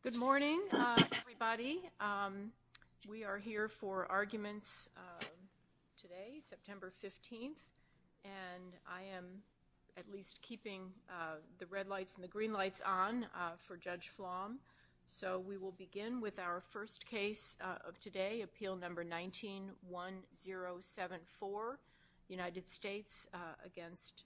Good morning, everybody. We are here for arguments today, September 15th, and I am at least keeping the red lights and the green lights on for Judge Flom. So we will begin with our first case of today, appeal number 19-1074, United States against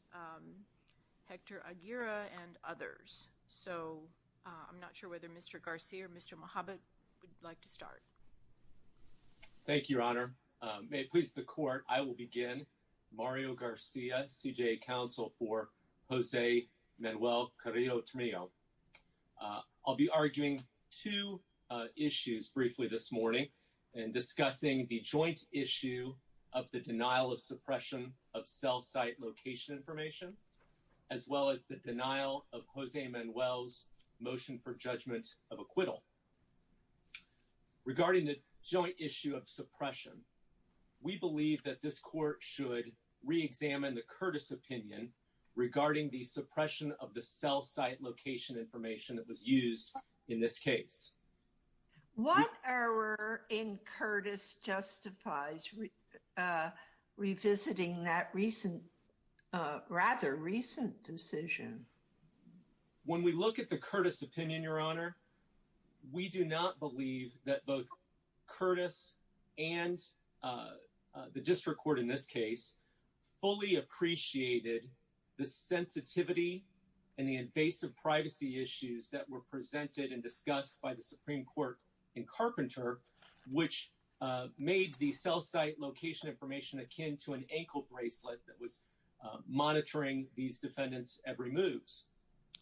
Hector Aguirre and others. So I'm not sure whether Mr. Garcia or Mr. Mohamed would like to start. Thank you, Your Honor. May it please the court, I will begin. Mario Garcia, CJA counsel for Jose Manuel Carrillo-Tremillo. I'll be arguing two issues briefly this morning and discussing the joint issue of the denial of suppression of cell site location information, as well as the denial of Jose Manuel's motion for judgment of acquittal. Regarding the joint issue of suppression, we believe that this court should reexamine the Curtis opinion regarding the suppression of the cell site location information that was used in this case. What error in Curtis justifies revisiting that rather recent decision? When we look at the Curtis opinion, Your Honor, we do not believe that both Curtis and the district court in this case fully appreciated the sensitivity and the invasive privacy issues that were presented and discussed by the Supreme Court in Carpenter, which made the cell site location information akin to an ankle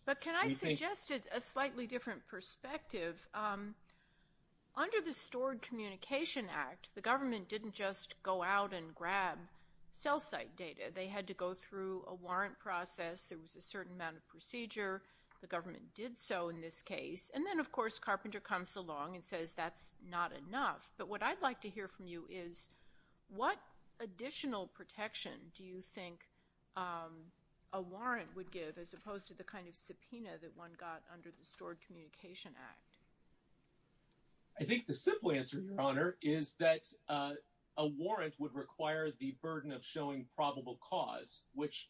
But can I suggest a slightly different perspective? Under the Stored Communication Act, the government didn't just go out and grab cell site data. They had to go through a warrant process. There was a certain amount of procedure. The government did so in this case. And then, of course, Carpenter comes along and says that's not enough. But what I'd like to hear from you is what additional protection do you think a warrant would give as opposed to the kind of subpoena that one got under the Stored Communication Act? I think the simple answer, Your Honor, is that a warrant would require the burden of showing probable cause, which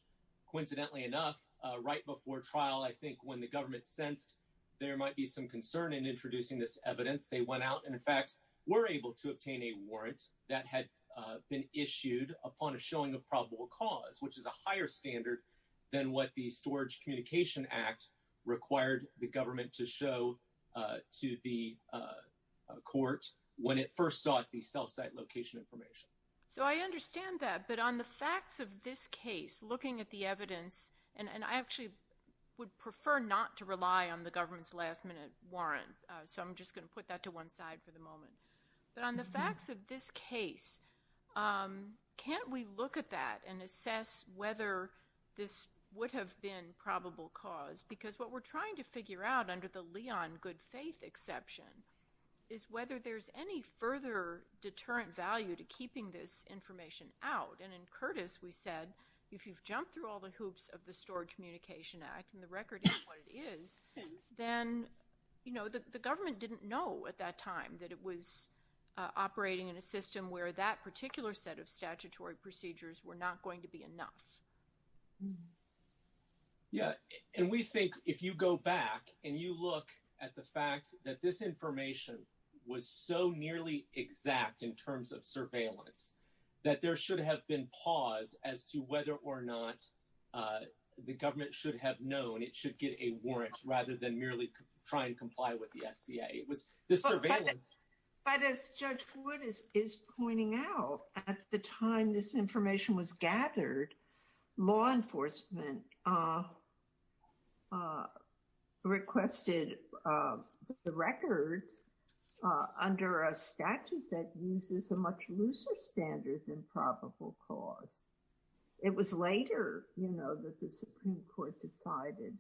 coincidentally enough, right before trial, I think when the government sensed there might be some concern in introducing this evidence, they went out and, in fact, were able to obtain a warrant that had been issued upon a showing of probable cause, which is a higher standard than what the Storage Communication Act required the government to show to the court when it first sought the cell site location information. So I understand that. But on the facts of this case, looking at the evidence, and I actually would prefer not to rely on the government's last minute warrant. So I'm just going to put that to one side for the moment. But on the facts of this case, can't we look at that and assess whether this would have been probable cause? Because what we're trying to figure out under the Leon good faith exception is whether there's any further deterrent value to keeping this information out. And in Curtis, we said, if you've jumped through all the hoops of the Stored Communication Act, and the record is what it is, then the government didn't know at that time that it was operating in a system where that particular set of statutory procedures were not going to be enough. Yeah, and we think if you go back and you look at the fact that this information was so nearly exact in terms of surveillance that there should have been pause as to whether or not the government should have known it should get a warrant rather than merely try and comply with the SCA. It was this surveillance. But as Judge Wood is pointing out, at the time this information was gathered, law enforcement requested the record under a statute that uses a much looser standard than probable cause. It was later that the Supreme Court decided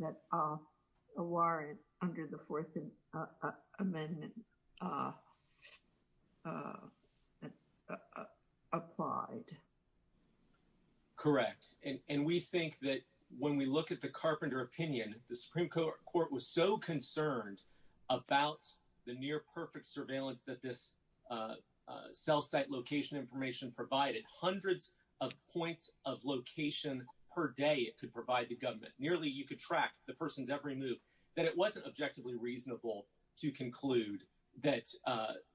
that a warrant under the Fourth Amendment applied. Correct. And we think that when we look at the Carpenter opinion, the Supreme Court was so concerned about the near-perfect surveillance that this cell site location information provided. Hundreds of points of location per day it could provide the government. Nearly, you could track the person's every move. That it wasn't objectively reasonable to conclude that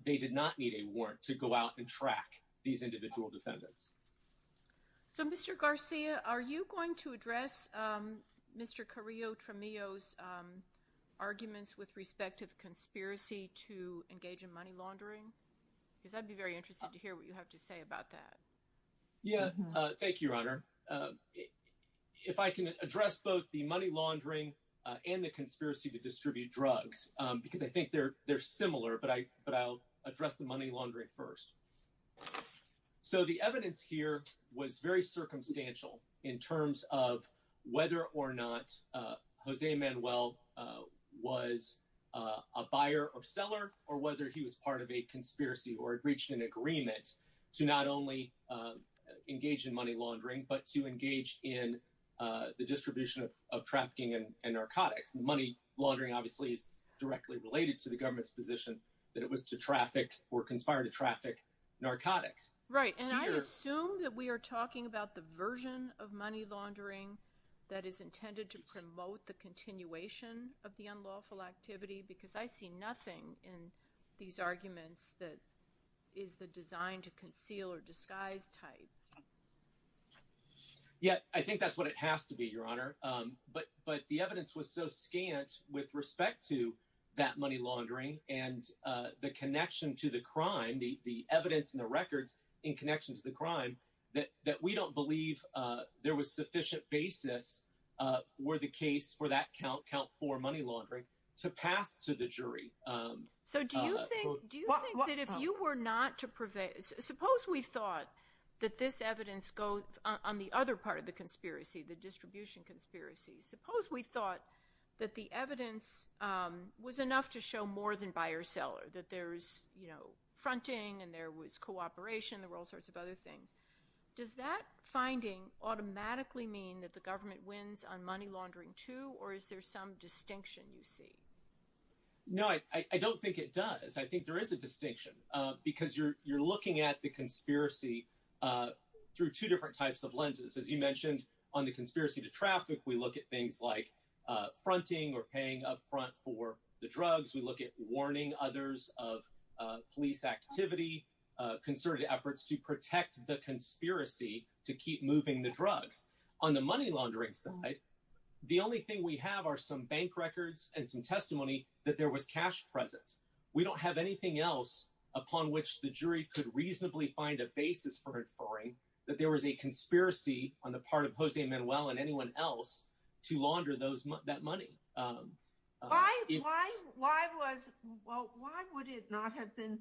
they did not need a warrant to go out and track these individual defendants. So Mr. Garcia, are you going to address Mr. Carrillo-Tremillo's arguments with respect to the conspiracy to engage in money laundering? Because I'd be very interested to hear what you have to say about that. Yeah, thank you, Your Honor. If I can address both the money laundering and the conspiracy to distribute drugs, because I think they're similar, but I'll address the money laundering first. So the evidence here was very circumstantial in terms of whether or not Jose Manuel was a buyer or seller, or whether he was part of a conspiracy or had reached an agreement to not only engage in money laundering, but to engage in the distribution of trafficking and narcotics. And money laundering, obviously, is directly related to the government's position that it was to traffic or conspire to traffic narcotics. Right, and I assume that we are talking about the version of money laundering that is intended to promote the continuation of the unlawful activity. Because I see nothing in these arguments that is the design to conceal or disguise type. Yeah, I think that's what it has to be, Your Honor. But the evidence was so scant with respect to that money laundering and the connection to the crime, the evidence and the records in connection to the crime, that we don't believe there was sufficient basis for the case for that count, count four money laundering, to pass to the jury. So do you think that if you were not to prevail, suppose we thought that this evidence goes on the other part of the conspiracy, the distribution conspiracy. Suppose we thought that the evidence was enough to show more than buyer seller, that there was fronting and there was cooperation. There were all sorts of other things. Does that finding automatically mean that the government wins on money laundering too, or is there some distinction you see? No, I don't think it does. I think there is a distinction, because you're looking at the conspiracy through two different types of lenses. As you mentioned, on the conspiracy to traffic, we look at things like fronting or paying up front for the drugs. We look at warning others of police activity, concerted efforts to protect the conspiracy to keep moving the drugs. On the money laundering side, the only thing we have are some bank records and some testimony that there was cash present. We don't have anything else upon which the jury could reasonably find a basis for inferring that there was a conspiracy on the part of Jose Manuel and anyone else to launder that money. Well, why would it not have been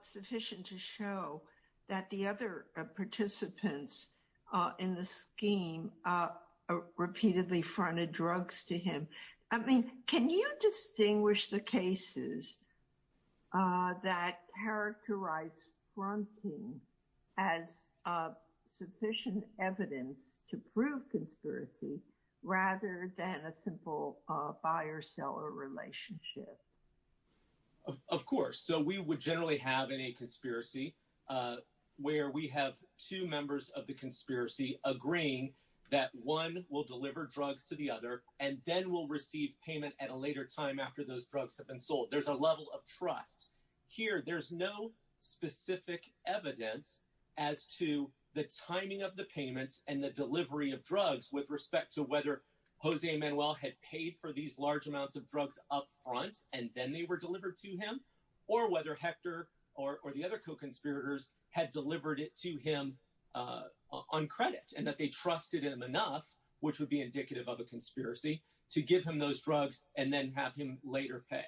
sufficient to show that the other participants in the scheme repeatedly fronted drugs to him? I mean, can you distinguish the cases that characterize fronting as sufficient evidence to prove conspiracy rather than a simple buyer-seller relationship? Of course. So we would generally have in a conspiracy where we have two members of the conspiracy agreeing that one will deliver drugs to the other and then will receive payment at a later time after those drugs have been sold. There's a level of trust. Here, there's no specific evidence as to the timing of the payments and the delivery of drugs with respect to whether Jose Manuel had paid for these large amounts of drugs up front and then they were delivered to him, or whether Hector or the other co-conspirators had delivered it to him on credit and that they trusted him enough, which would be indicative of a conspiracy, to give him those drugs and then have him later pay.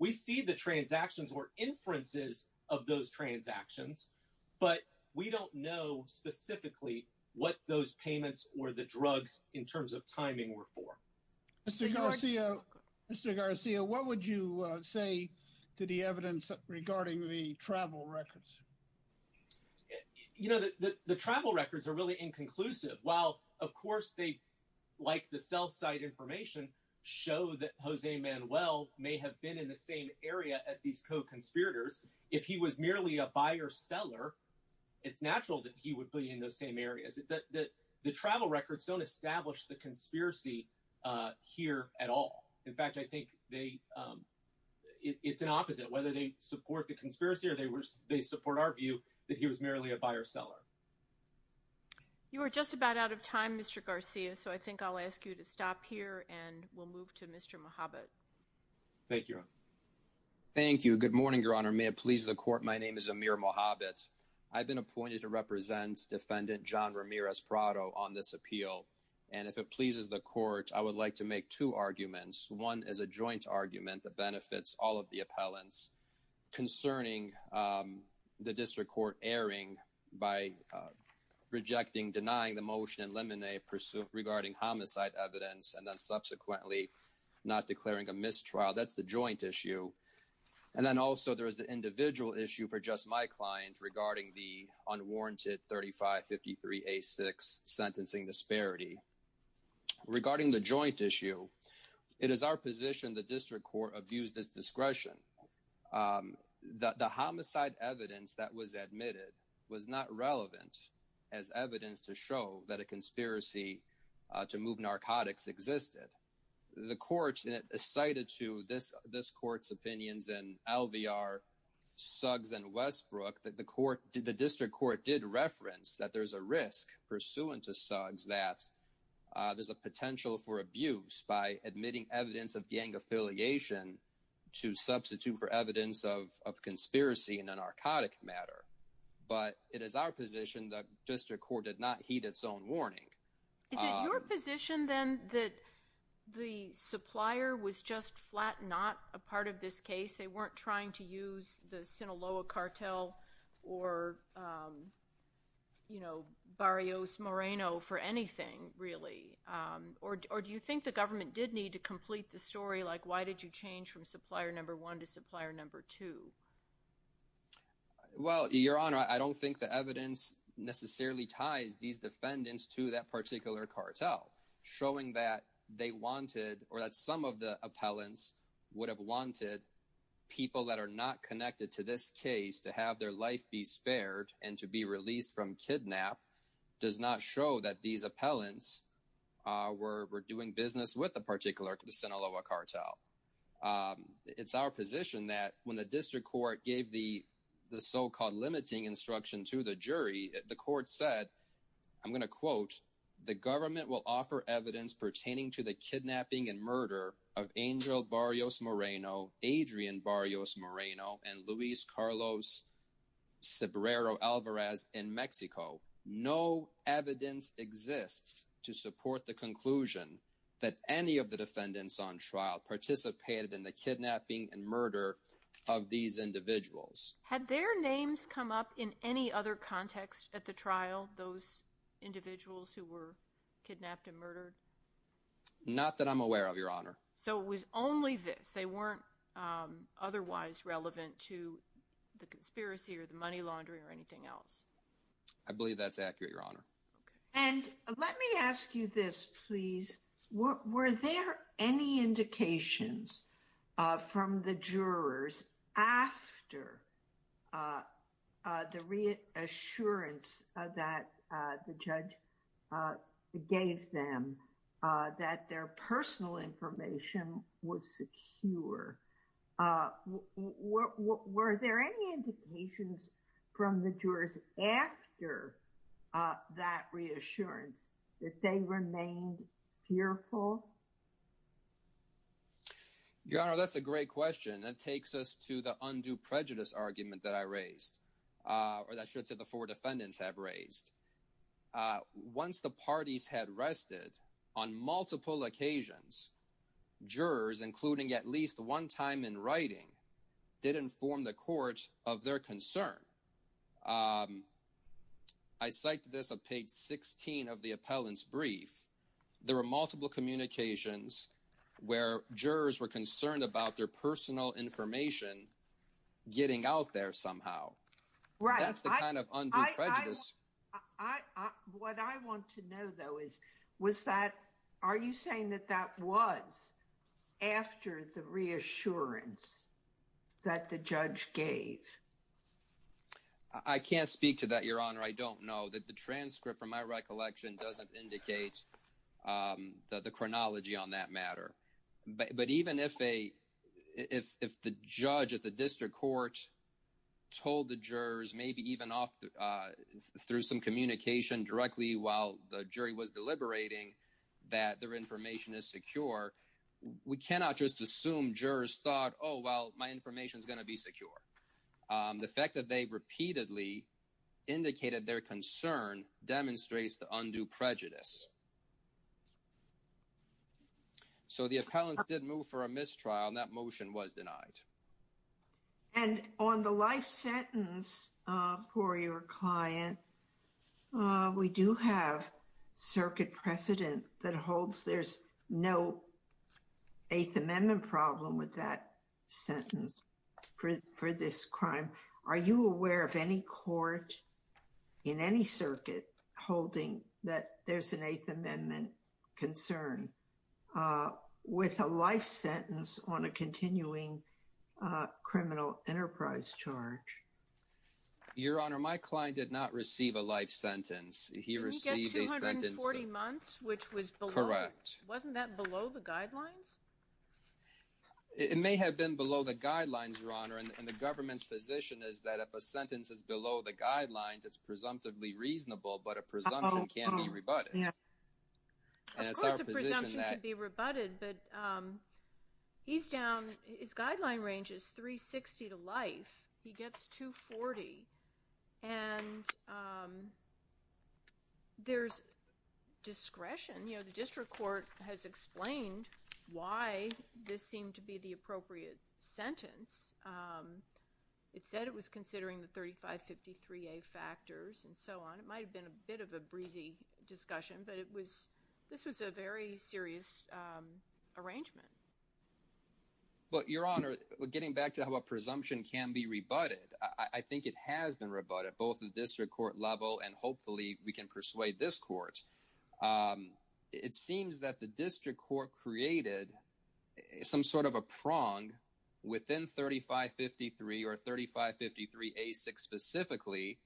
We see the transactions or inferences of those transactions, but we don't know specifically what those payments or the drugs in terms of timing were for. Mr. Garcia, what would you say to the evidence regarding the travel records? You know, the travel records are really inconclusive. While, of course, they, like the cell site information, show that Jose Manuel may have been in the same area as these co-conspirators. If he was merely a buyer-seller, it's natural that he would be in those same areas. The travel records don't establish the conspiracy here at all. In fact, I think it's an opposite, that whether they support the conspiracy or they support our view, that he was merely a buyer-seller. You are just about out of time, Mr. Garcia, so I think I'll ask you to stop here and we'll move to Mr. Mohabit. Thank you, Your Honor. Thank you. Good morning, Your Honor. May it please the court, my name is Amir Mohabit. I've been appointed to represent Defendant John Ramirez Prado on this appeal. And if it pleases the court, I would like to make two arguments. One is a joint argument that benefits all of the appellants concerning the district court erring by rejecting, denying the motion in Lemonet regarding homicide evidence and then subsequently not declaring a mistrial. That's the joint issue. And then also there is the individual issue for just my client regarding the unwarranted 3553A6 sentencing disparity. Regarding the joint issue, it is our position the district court abused its discretion. The homicide evidence that was admitted was not relevant as evidence to show that a conspiracy to move narcotics existed. The court cited to this court's opinions in LVR, Suggs, and Westbrook that the district court did reference that there's a risk pursuant to Suggs that there's a potential for abuse by admitting evidence of gang affiliation to substitute for evidence of conspiracy in a narcotic matter. But it is our position the district court did not heed its own warning. Is it your position then that the supplier was just flat not a part of this case? They weren't trying to use the Sinaloa cartel or Barrios Moreno for anything really. Or do you think the government did need to complete the story like why did you change from supplier number one to supplier number two? Well, your honor, I don't think the evidence necessarily ties these defendants to that particular cartel. Showing that they wanted, or that some of the appellants would have wanted people that are not connected to this case to have their life be spared and to be released from kidnap does not show that these appellants were doing business with the particular Sinaloa cartel. It's our position that when the district court gave the so-called limiting instruction to the jury, the court said, I'm gonna quote, the government will offer evidence pertaining to the kidnapping and murder of Angel Barrios Moreno, Adrian Barrios Moreno, and Luis Carlos Cebrero Alvarez in Mexico. No evidence exists to support the conclusion that any of the defendants on trial participated in the kidnapping and murder of these individuals. Had their names come up in any other context at the trial, those individuals who were kidnapped and murdered? Not that I'm aware of, your honor. So it was only this. They weren't otherwise relevant to the conspiracy or the money laundering or anything else. I believe that's accurate, your honor. And let me ask you this, please. Were there any indications from the jurors after the reassurance that the judge gave them that their personal information was secure? Were there any indications from the jurors after that reassurance that they remained fearful? Your honor, that's a great question. That takes us to the undue prejudice argument that I raised, or that should say the four defendants have raised. Once the parties had rested, on multiple occasions, jurors, including at least one time in writing, did inform the court of their concern. I cited this on page 16 of the appellant's brief. There were multiple communications where jurors were concerned about their personal information getting out there somehow. Right. That's the kind of undue prejudice. What I want to know, though, is was that, are you saying that that was after the reassurance that the judge gave? I can't speak to that, your honor. I don't know. The transcript, from my recollection, doesn't indicate the chronology on that matter. But even if the judge at the district court told the jurors, maybe even through some communication directly while the jury was deliberating, that their information is secure, we cannot just assume jurors thought, oh, well, my information's gonna be secure. The fact that they repeatedly indicated their concern demonstrates the undue prejudice. So the appellants did move for a mistrial, and that motion was denied. And on the life sentence for your client, we do have circuit precedent that holds there's no Eighth Amendment problem with that sentence for this crime. Are you aware of any court in any circuit holding that there's an Eighth Amendment concern with a life sentence on a continuing criminal enterprise charge? Your honor, my client did not receive a life sentence. He received a sentence of- Did he get 240 months, which was below? Correct. Wasn't that below the guidelines? It may have been below the guidelines, your honor. And the government's position is that if a sentence is below the guidelines, it's presumptively reasonable, but a presumption can be rebutted. Uh-oh, uh-oh, yeah. Of course a presumption can be rebutted, but he's down, his guideline range is 360 to life. He gets 240. And there's discretion. You know, the district court has explained why this seemed to be the appropriate sentence. It said it was considering the 3553A factors and so on. It might have been a bit of a breezy discussion, but this was a very serious arrangement. But your honor, getting back to how a presumption can be rebutted, I think it has been rebutted, both at the district court level and hopefully we can persuade this court. It seems that the district court created some sort of a prong within 3553 or 3553A6 specifically,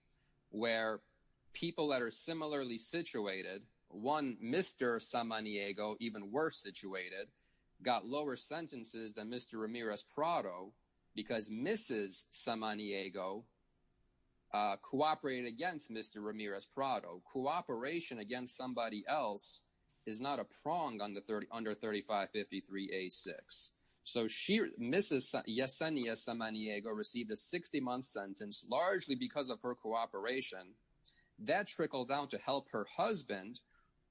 where people that are similarly situated, one Mr. Samaniego, even worse situated, got lower sentences than Mr. Ramirez-Prado because Mrs. Samaniego cooperated against Mr. Ramirez-Prado. Cooperation against somebody else is not a prong under 3553A6. So Mrs. Yesenia Samaniego received a 60-month sentence largely because of her cooperation. That trickled down to help her husband,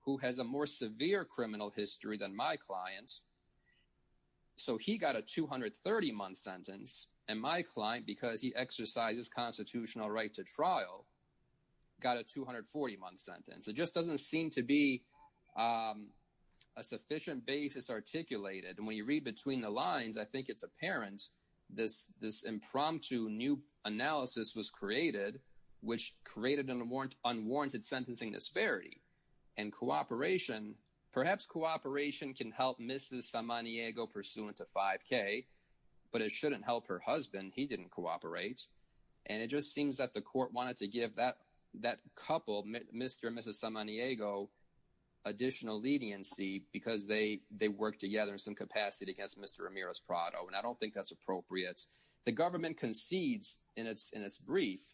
who has a more severe criminal history than my client. So he got a 230-month sentence and my client, because he exercises constitutional right to trial, got a 240-month sentence. It just doesn't seem to be a sufficient basis articulated. And when you read between the lines, I think it's apparent this impromptu new analysis was created, which created an unwarranted sentencing disparity. And cooperation, perhaps cooperation can help Mrs. Samaniego pursuant to 5K, but it shouldn't help her husband. He didn't cooperate. And it just seems that the court wanted to give that couple, Mr. and Mrs. Samaniego, additional leniency because they worked together in some capacity against Mr. Ramirez-Prado. And I don't think that's appropriate. The government concedes in its brief,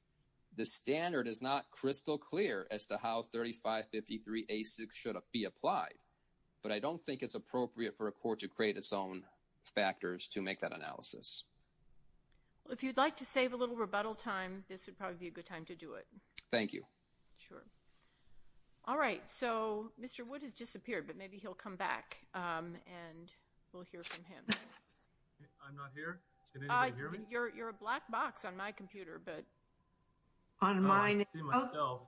the standard is not crystal clear as to how 3553A6 should be applied. But I don't think it's appropriate for a court to create its own factors to make that analysis. Well, if you'd like to save a little rebuttal time, this would probably be a good time to do it. Thank you. Sure. All right, so Mr. Wood has disappeared, but maybe he'll come back and we'll hear from him. I'm not here. Can anybody hear me? You're a black box on my computer, but. On mine. I can't see myself.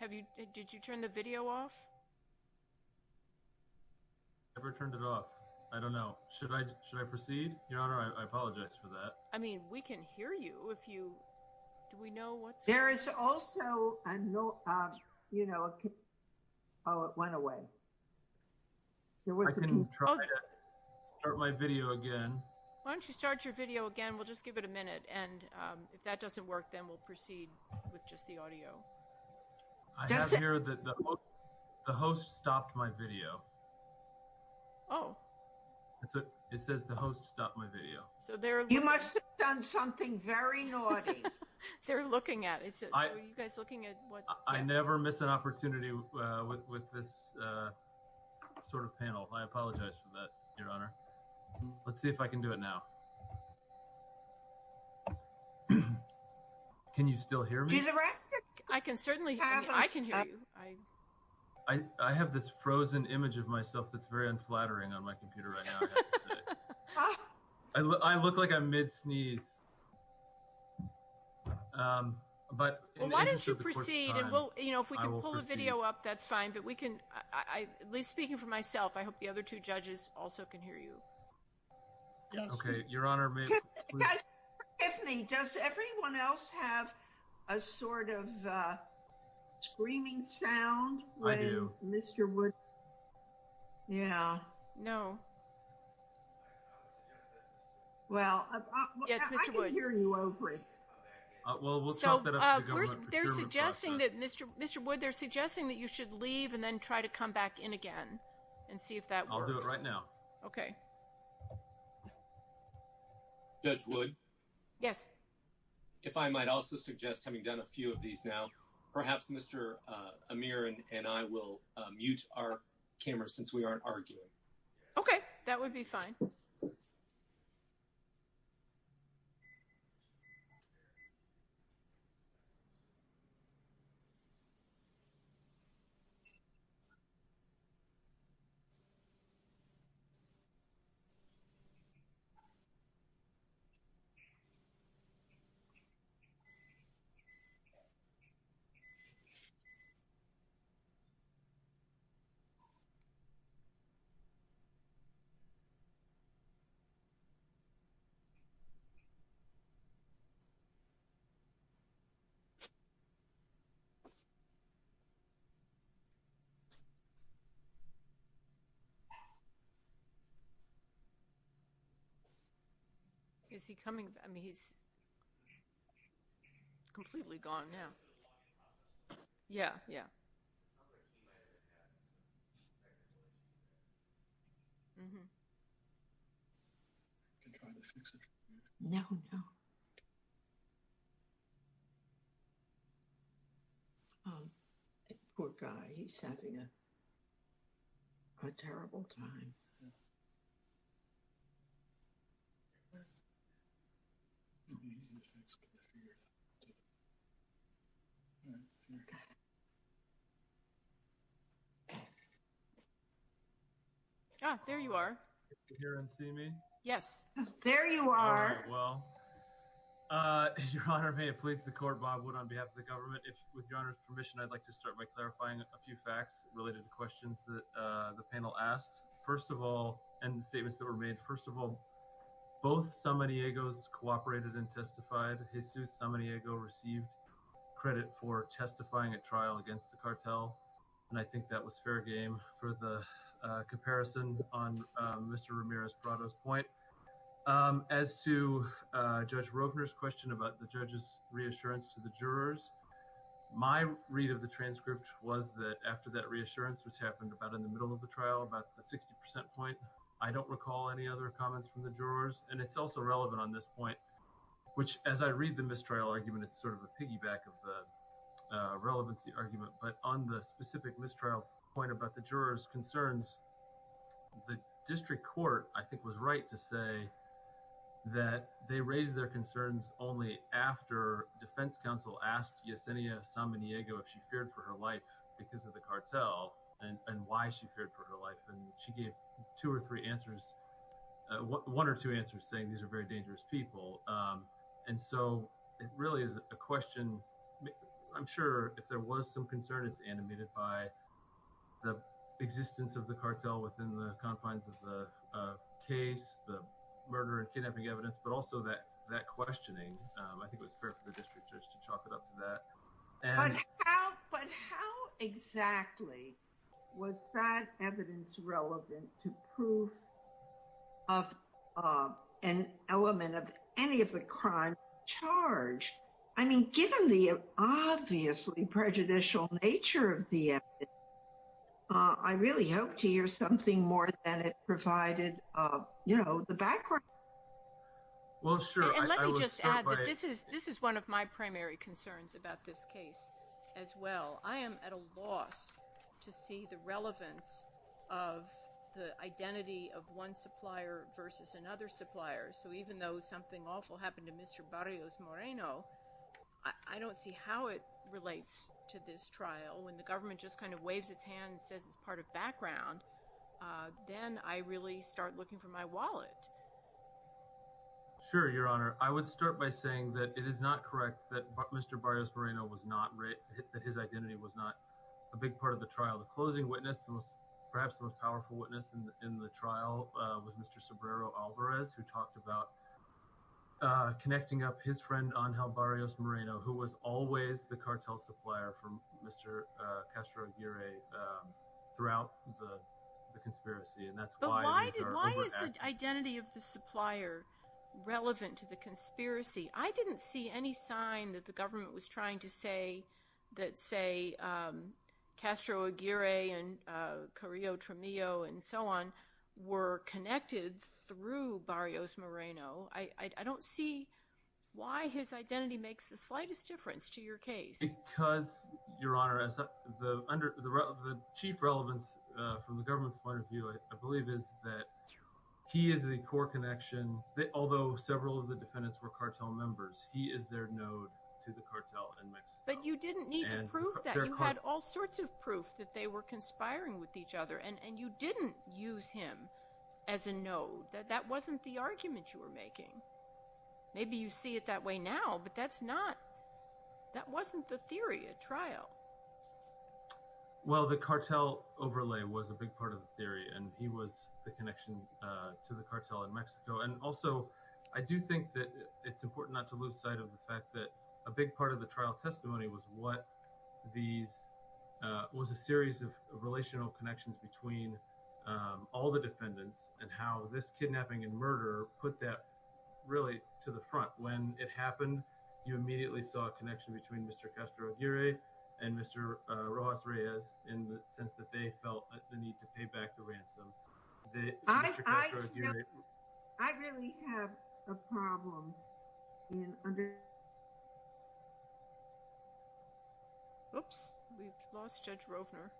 Have you, did you turn the video off? I never turned it off. I don't know. Should I proceed? Your Honor, I apologize for that. I mean, we can hear you if you, do we know what's- There is also, you know, oh, it went away. I can try to start my video again. Why don't you start your video again? We'll just give it a minute. And if that doesn't work, then we'll proceed with just the audio. I have here that the host stopped my video. Oh. It says the host stopped my video. So they're- You must have done something very naughty. They're looking at it. So are you guys looking at what- I never miss an opportunity with this sort of panel. I apologize for that, Your Honor. Let's see if I can do it now. Can you still hear me? Do the rest. I can certainly hear you. I can hear you. I have this frozen image of myself that's very unflattering on my computer right now, I have to say. I look like I'm mid-sneeze. But- We'll proceed. And if we can pull the video up, that's fine. But we can, at least speaking for myself, I hope the other two judges also can hear you. Okay, Your Honor, maybe- Guys, forgive me. Does everyone else have a sort of screaming sound? I do. When Mr. Wood, yeah. No. Well, I can hear you over it. Well, we'll talk that up They're suggesting that, Mr. Wood, they're suggesting that you should leave and then try to come back in again and see if that works. I'll do it right now. Okay. Judge Wood? Yes. If I might also suggest, having done a few of these now, perhaps Mr. Amir and I will mute our cameras since we aren't arguing. Okay, that would be fine. Okay. Is he coming? I mean, he's completely gone now. Yeah, yeah. I can try to fix it. No, no. Poor guy, he's having a terrible time. Ah, there you are. Can everyone see me? Yes. There you are. All right, well, Your Honor, may it please the court, Judge Wood, on behalf of the government, if, with Your Honor's permission, I'd like to start by clarifying a few facts related to questions that the panel asks. First of all, and the statements that were made, first of all, both Samaniegos cooperated and testified. Jesus Samaniego received credit for testifying at trial against the cartel. And I think that was fair game for the comparison on Mr. Ramirez-Prado's point. As to Judge Rogner's question about the judge's reassurance to the jurors, my read of the transcript was that after that reassurance was happened about in the middle of the trial, about the 60% point, I don't recall any other comments from the jurors. And it's also relevant on this point, which, as I read the mistrial argument, it's sort of a piggyback of the relevancy argument. But on the specific mistrial point about the jurors' concerns, the district court, I think, was right to say that they raised their concerns only after defense counsel asked Yesenia Samaniego if she feared for her life because of the cartel and why she feared for her life. And she gave two or three answers, one or two answers saying these are very dangerous people. And so it really is a question. I'm sure if there was some concern, it's animated by the existence of the cartel within the confines of the case, the murder and kidnapping evidence, but also that questioning, I think it was fair for the district judge to chalk it up to that. But how exactly was that evidence relevant to proof of an element of any of the crime charge? I mean, given the obviously prejudicial nature of the, I really hope to hear something more than it provided, you know, the background. Well, sure. And let me just add that this is one of my primary concerns about this case as well. I am at a loss to see the relevance of the identity of one supplier versus another supplier. So even though something awful happened to Mr. Barrios Moreno, I don't see how it relates to this trial when the government just kind of waves its hand and says it's part of background. Then I really start looking for my wallet. Sure, Your Honor. I would start by saying that it is not correct that Mr. Barrios Moreno was not, that his identity was not a big part of the trial. The closing witness, perhaps the most powerful witness in the trial was Mr. Sobrero Alvarez, who talked about connecting up his friend Angel Barrios Moreno, who was always the cartel supplier from Mr. Castro Aguirre throughout the conspiracy. And that's why- But why is the identity of the supplier relevant to the conspiracy? I didn't see any sign that the government was trying to say that, say, Castro Aguirre and Carrillo Tramillo and so on were connected through Barrios Moreno. I don't see why his identity makes the slightest difference to your case. Because, Your Honor, the chief relevance from the government's point of view, I believe, is that he is the core connection, although several of the defendants were cartel members, he is their node to the cartel in Mexico. But you didn't need to prove that. You had all sorts of proof that they were conspiring with each other, and you didn't use him as a node. That wasn't the argument you were making. Maybe you see it that way now, but that's not, that wasn't the theory at trial. Well, the cartel overlay was a big part of the theory, and he was the connection to the cartel in Mexico. And also, I do think that it's important not to lose sight of the fact that a big part of the trial testimony was what these, was a series of relational connections between all the defendants and how this kidnapping and murder put that really to the front. When it happened, you immediately saw a connection between Mr. Castro Aguirre and Mr. Rojas Reyes in the sense that they felt the need to pay back the ransom. I really have a problem in under... Oops, we've lost Judge Rovner.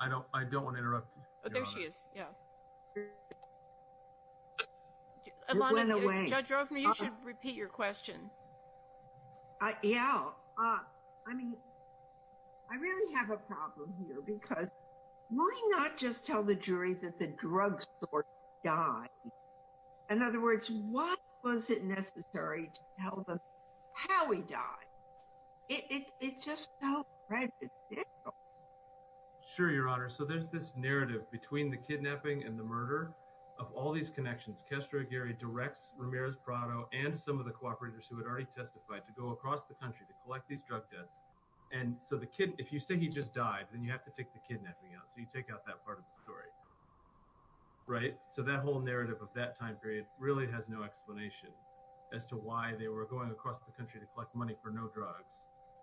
I don't want to interrupt. Oh, there she is, yeah. Ilana, Judge Rovner, you should repeat your question. Yeah, I mean, I really have a problem here because why not just tell the jury that the drug store died? In other words, why was it necessary to tell them how he died? It's just so ridiculous. Sure, Your Honor. So there's this narrative between the kidnapping and the murder of all these connections. Castro Aguirre directs Ramirez Prado and some of the cooperators who had already testified to go across the country to collect these drug debts. And so the kid, if you say he just died, then you have to take the kidnapping out. So you take out that part of the story, right? So that whole narrative of that time period really has no explanation as to why they were going across the country to collect money for no drugs.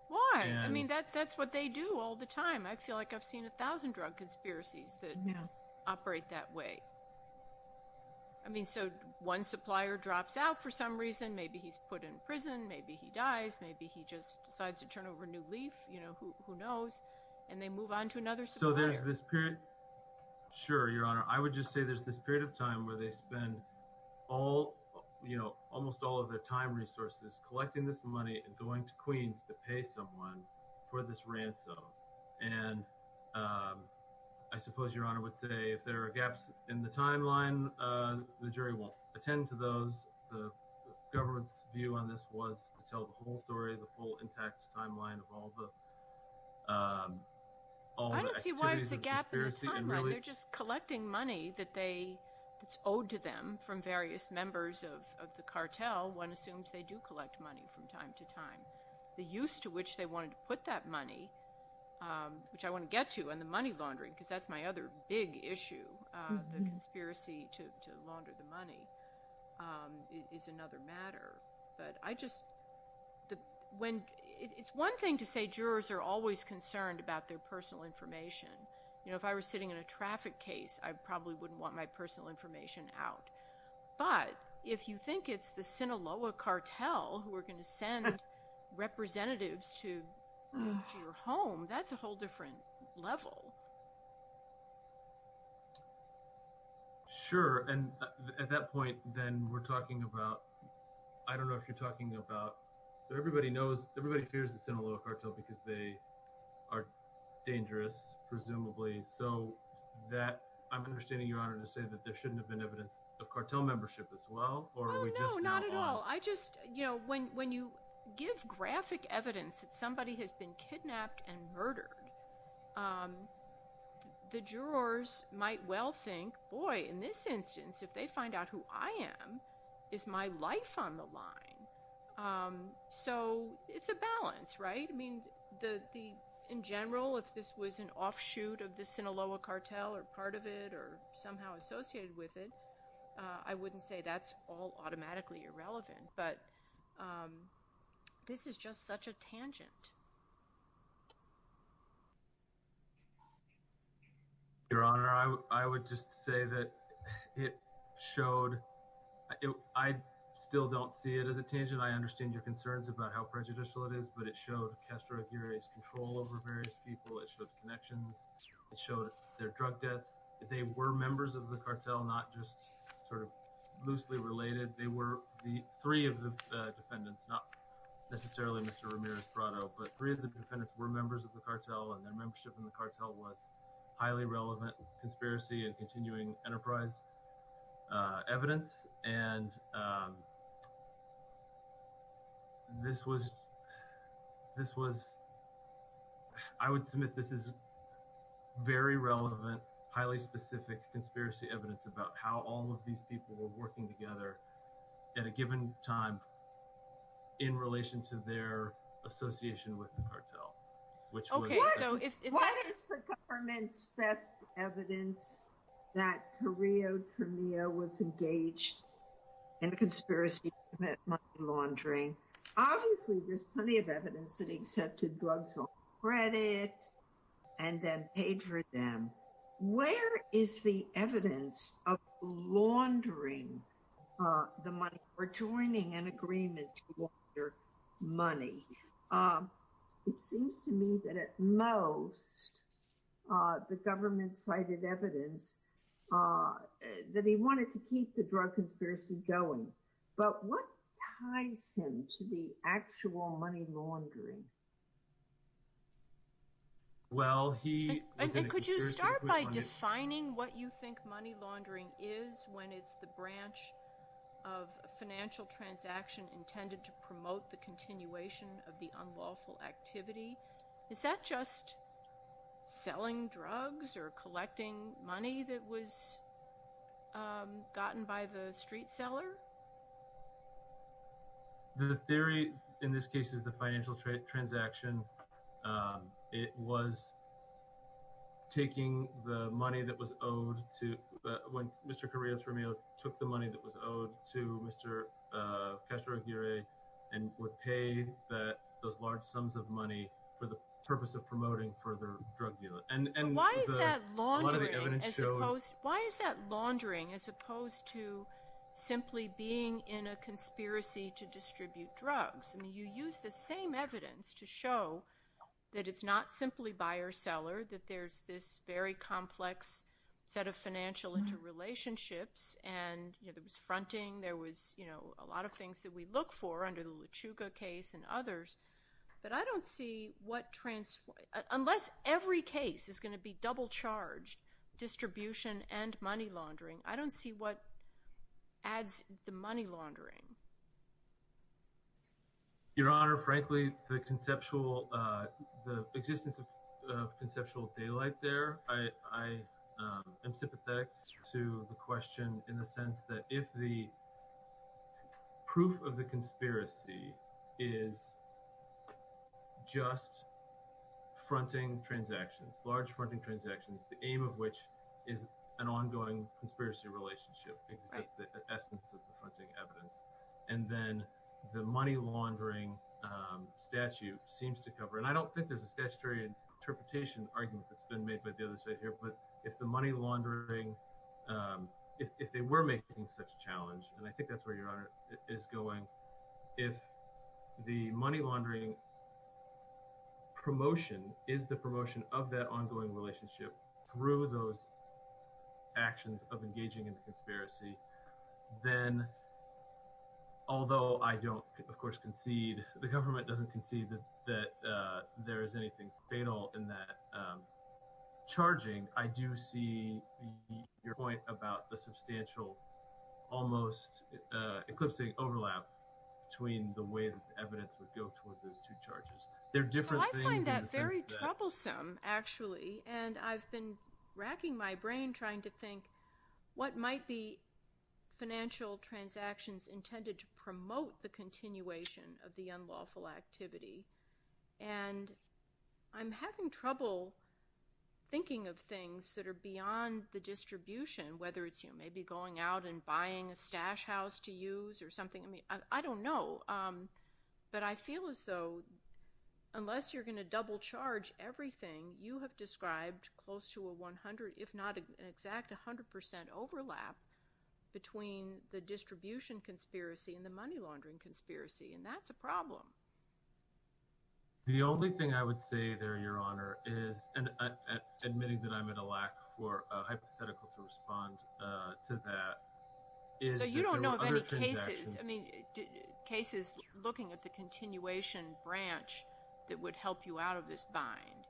Why? I mean, that's what they do all the time. I feel like I've seen a thousand drug conspiracies that operate that way. I mean, so one supplier drops out for some reason, maybe he's put in prison, maybe he dies, maybe he just decides to turn over a new leaf, you know, who knows? And they move on to another supplier. So there's this period, sure, Your Honor. I would just say there's this period of time where they spend almost all of their time resources collecting this money and going to Queens to pay someone for this ransom. And I suppose Your Honor would say if there are gaps in the timeline, the jury will attend to those. The government's view on this was to tell the whole story, the full intact timeline of all the, all the activities of the conspiracy and really- I don't see why it's a gap in the timeline. They're just collecting money that's owed to them from various members of the cartel. One assumes they do collect money from time to time. The use to which they wanted to put that money, which I want to get to, and the money laundering, because that's my other big issue, the conspiracy to launder the money, is another matter. But I just, when, it's one thing to say jurors are always concerned about their personal information. You know, if I were sitting in a traffic case, I probably wouldn't want my personal information out. But if you think it's the Sinaloa cartel who are gonna send representatives to your home, that's a whole different level. Sure, and at that point, then, we're talking about, I don't know if you're talking about, everybody knows, everybody fears the Sinaloa cartel because they are dangerous, presumably, so that, I'm understanding, Your Honor, to say that there shouldn't have been evidence of cartel membership as well, or are we just now- When you give graphic evidence that somebody has been kidnapped and murdered, the jurors might well think, boy, in this instance, if they find out who I am, is my life on the line? So it's a balance, right? I mean, in general, if this was an offshoot of the Sinaloa cartel, or part of it, or somehow associated with it, I wouldn't say that's all automatically irrelevant, but this is just such a tangent. Your Honor, I would just say that it showed, I still don't see it as a tangent. I understand your concerns about how prejudicial it is, but it showed Castro Aguirre's control over various people, it showed connections, it showed their drug debts. They were members of the cartel, not just sort of loosely related. They were the three of the defendants, not necessarily Mr. Ramirez Prado, but three of the defendants were members of the cartel, and their membership in the cartel was highly relevant conspiracy and continuing enterprise evidence. And this was, I would submit this is very relevant, highly specific conspiracy evidence about how all of these people were working together at a given time in relation to their association with the cartel. Which was- What is the government's best evidence that Carrillo Cremio was engaged in a conspiracy to commit money laundering? Obviously, there's plenty of evidence that he accepted drugs on credit and then paid for them. Where is the evidence of laundering the money or joining an agreement to launder money? It seems to me that at most the government cited evidence that he wanted to keep the drug conspiracy going, but what ties him to the actual money laundering? Well, he was in a conspiracy to commit money laundering- And could you start by defining what you think money laundering is when it's the branch of a financial transaction intended to promote the continuation of the unlawful activity? Is that just selling drugs or collecting money that was gotten by the street seller? The theory in this case is the financial transaction, it was taking the money that was owed to, when Mr. Carrillo Cremio took the money that was owed to Mr. Castro Aguirre and would pay those large sums of money for the purpose of promoting further drug deal. And- Why is that laundering as opposed- Why is that laundering as opposed to simply being in a conspiracy to distribute drugs? I mean, you use the same evidence to show that it's not simply buyer-seller, that there's this very complex set of financial interrelationships, and there was fronting, there was a lot of things that we look for under the Luchuga case and others, but I don't see what trans- Unless every case is gonna be double-charged, distribution and money laundering, I don't see what adds the money laundering. Your Honor, frankly, the existence of conceptual daylight there, I am sympathetic to the question in the sense that if the proof of the conspiracy is just fronting transactions, large fronting transactions, the aim of which is an ongoing conspiracy relationship, because that's the essence of the fronting evidence, and then the money laundering statute seems to cover, and I don't think there's a statutory interpretation argument that's been made by the other side here, but if the money laundering, if they were making such a challenge, and I think that's where Your Honor is going, if the money laundering promotion through those actions of engaging in the conspiracy, then although I don't, of course, concede, the government doesn't concede that there is anything fatal in that charging, I do see your point about the substantial, almost eclipsing overlap between the way that the evidence would go towards those two charges. There are different things in the sense that- So I find that very troublesome, actually, and I've been racking my brain trying to think what might be financial transactions intended to promote the continuation of the unlawful activity, and I'm having trouble thinking of things that are beyond the distribution, whether it's maybe going out and buying a stash house to use or something, I mean, I don't know, but I feel as though, unless you're gonna double charge everything, you have described close to a 100, if not an exact 100% overlap between the distribution conspiracy and the money laundering conspiracy, and that's a problem. The only thing I would say there, Your Honor, is, and admitting that I'm at a lack for a hypothetical to respond to that, is that there were other transactions- So you don't know of any cases, I mean, cases looking at the continuation branch that would help you out of this bind?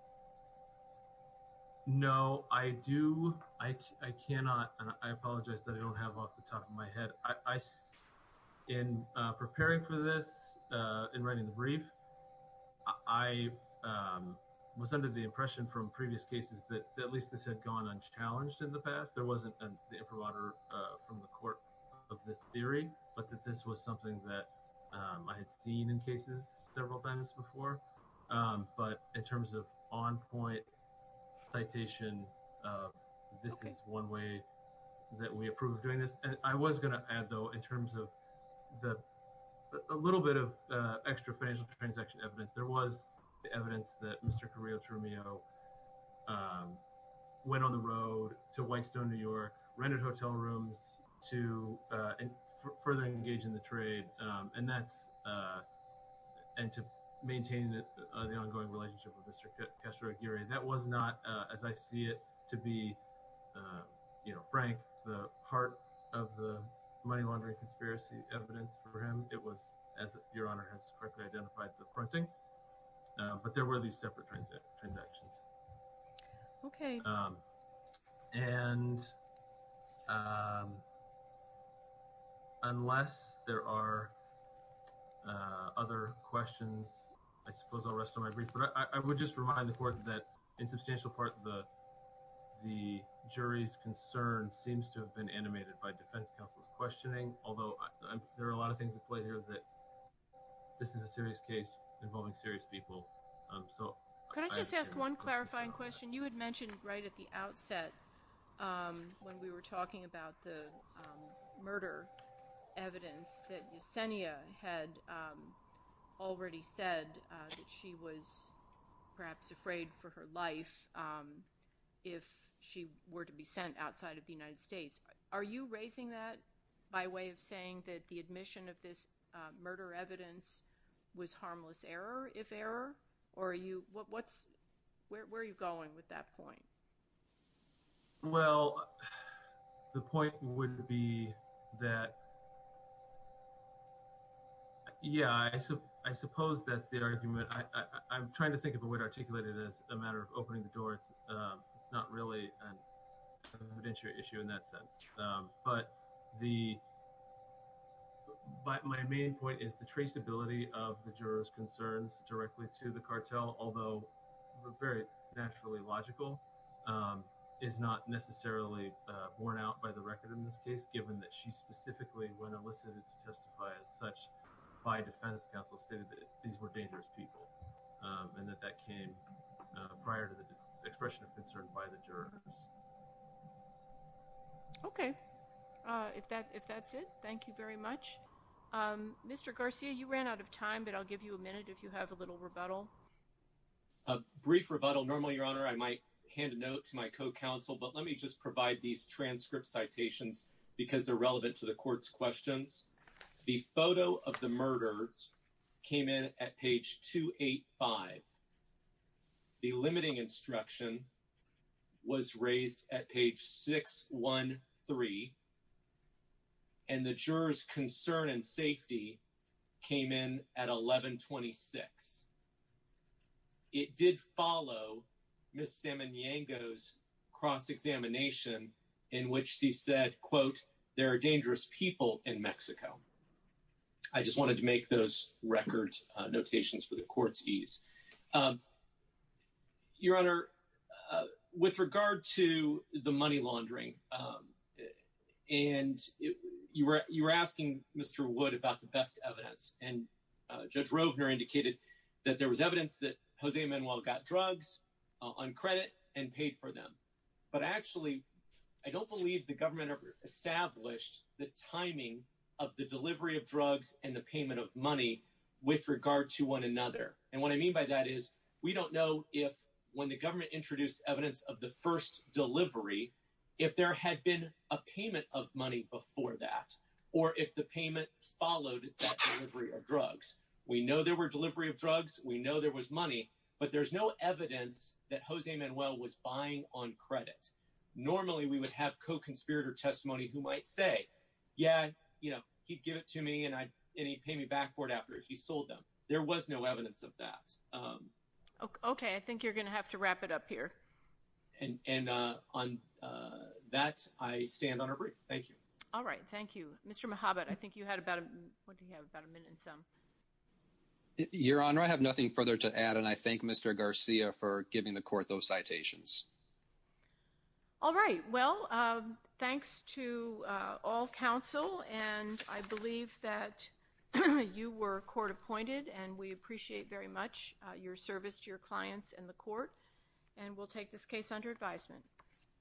No, I do, I cannot, and I apologize that I don't have off the top of my head, I, in preparing for this, in writing the brief, I was under the impression from previous cases that at least this had gone unchallenged in the past, there wasn't the imprimatur from the court of this theory, but that this was something that I had seen in cases several times before, but in terms of on-point citation, this is one way that we approve doing this, and I was gonna add, though, in terms of a little bit of extra financial transaction evidence, there was evidence that Mr. Carrillo Trumillo went on the road to Whitestone, New York, rented hotel rooms to further engage in the trade, and that's, and to maintain the ongoing relationship with Mr. Castro Aguirre, that was not, as I see it, to be, you know, frank, the heart of the money laundering conspiracy evidence for him, it was, as Your Honor has correctly identified, the printing, but there were these separate transactions. Okay. And, unless there are other questions, I suppose I'll rest on my brief, but I would just remind the court that, in substantial part, the jury's concern seems to have been animated by defense counsel's questioning, although there are a lot of things at play here that this is a serious case involving serious people, so. Can I just ask one clarifying question? You had mentioned right at the outset when we were talking about the murder evidence that Yesenia had already said that she was perhaps afraid for her life if she were to be sent outside of the United States. Are you raising that by way of saying that the admission of this murder evidence was harmless error, if error, or are you, what's, where are you going with that point? Well, the point would be that, yeah, I suppose that's the argument. I'm trying to think of a way to articulate it as a matter of opening the door. It's not really an evidentiary issue in that sense, but my main point is the traceability of the juror's concerns directly to the cartel, although very naturally logical, is not necessarily borne out by the record in this case, given that she specifically, when elicited to testify as such by defense counsel, stated that these were dangerous people and that that came prior to the expression of concern by the jurors. Okay, if that's it, thank you very much. Mr. Garcia, you ran out of time, but I'll give you a minute if you have a little rebuttal. A brief rebuttal. Normally, Your Honor, I might hand a note to my co-counsel, but let me just provide these transcript citations because they're relevant to the court's questions. The photo of the murder came in at page 285. The limiting instruction was raised at page 613, and the juror's concern and safety came in at 1126. It did follow Ms. Samaniego's cross-examination in which she said, quote, "'There are dangerous people in Mexico.'" I just wanted to make those record notations for the court's ease. Your Honor, with regard to the money laundering, and you were asking Mr. Wood about the best evidence, and Judge Rovner indicated that there was evidence that Jose Manuel got drugs on credit and paid for them. But actually, I don't believe the government established the timing of the delivery of drugs and the payment of money with regard to one another. And what I mean by that is we don't know if when the government introduced evidence of the first delivery, if there had been a payment of money before that, or if the payment followed that delivery of drugs. We know there were delivery of drugs, we know there was money, but there's no evidence that Jose Manuel was buying on credit. Normally, we would have co-conspirator testimony who might say, yeah, he'd give it to me and he'd pay me back for it after he sold them. There was no evidence of that. Okay, I think you're gonna have to wrap it up here. And on that, I stand on a brief, thank you. All right, thank you. Mr. Mohabat, I think you had about a, what do you have, about a minute and some. Your Honor, I have nothing further to add, and I thank Mr. Garcia for giving the court those citations. All right, well, thanks to all counsel, and I believe that you were court appointed and we appreciate very much your service to your clients and the court, and we'll take this case under advisement.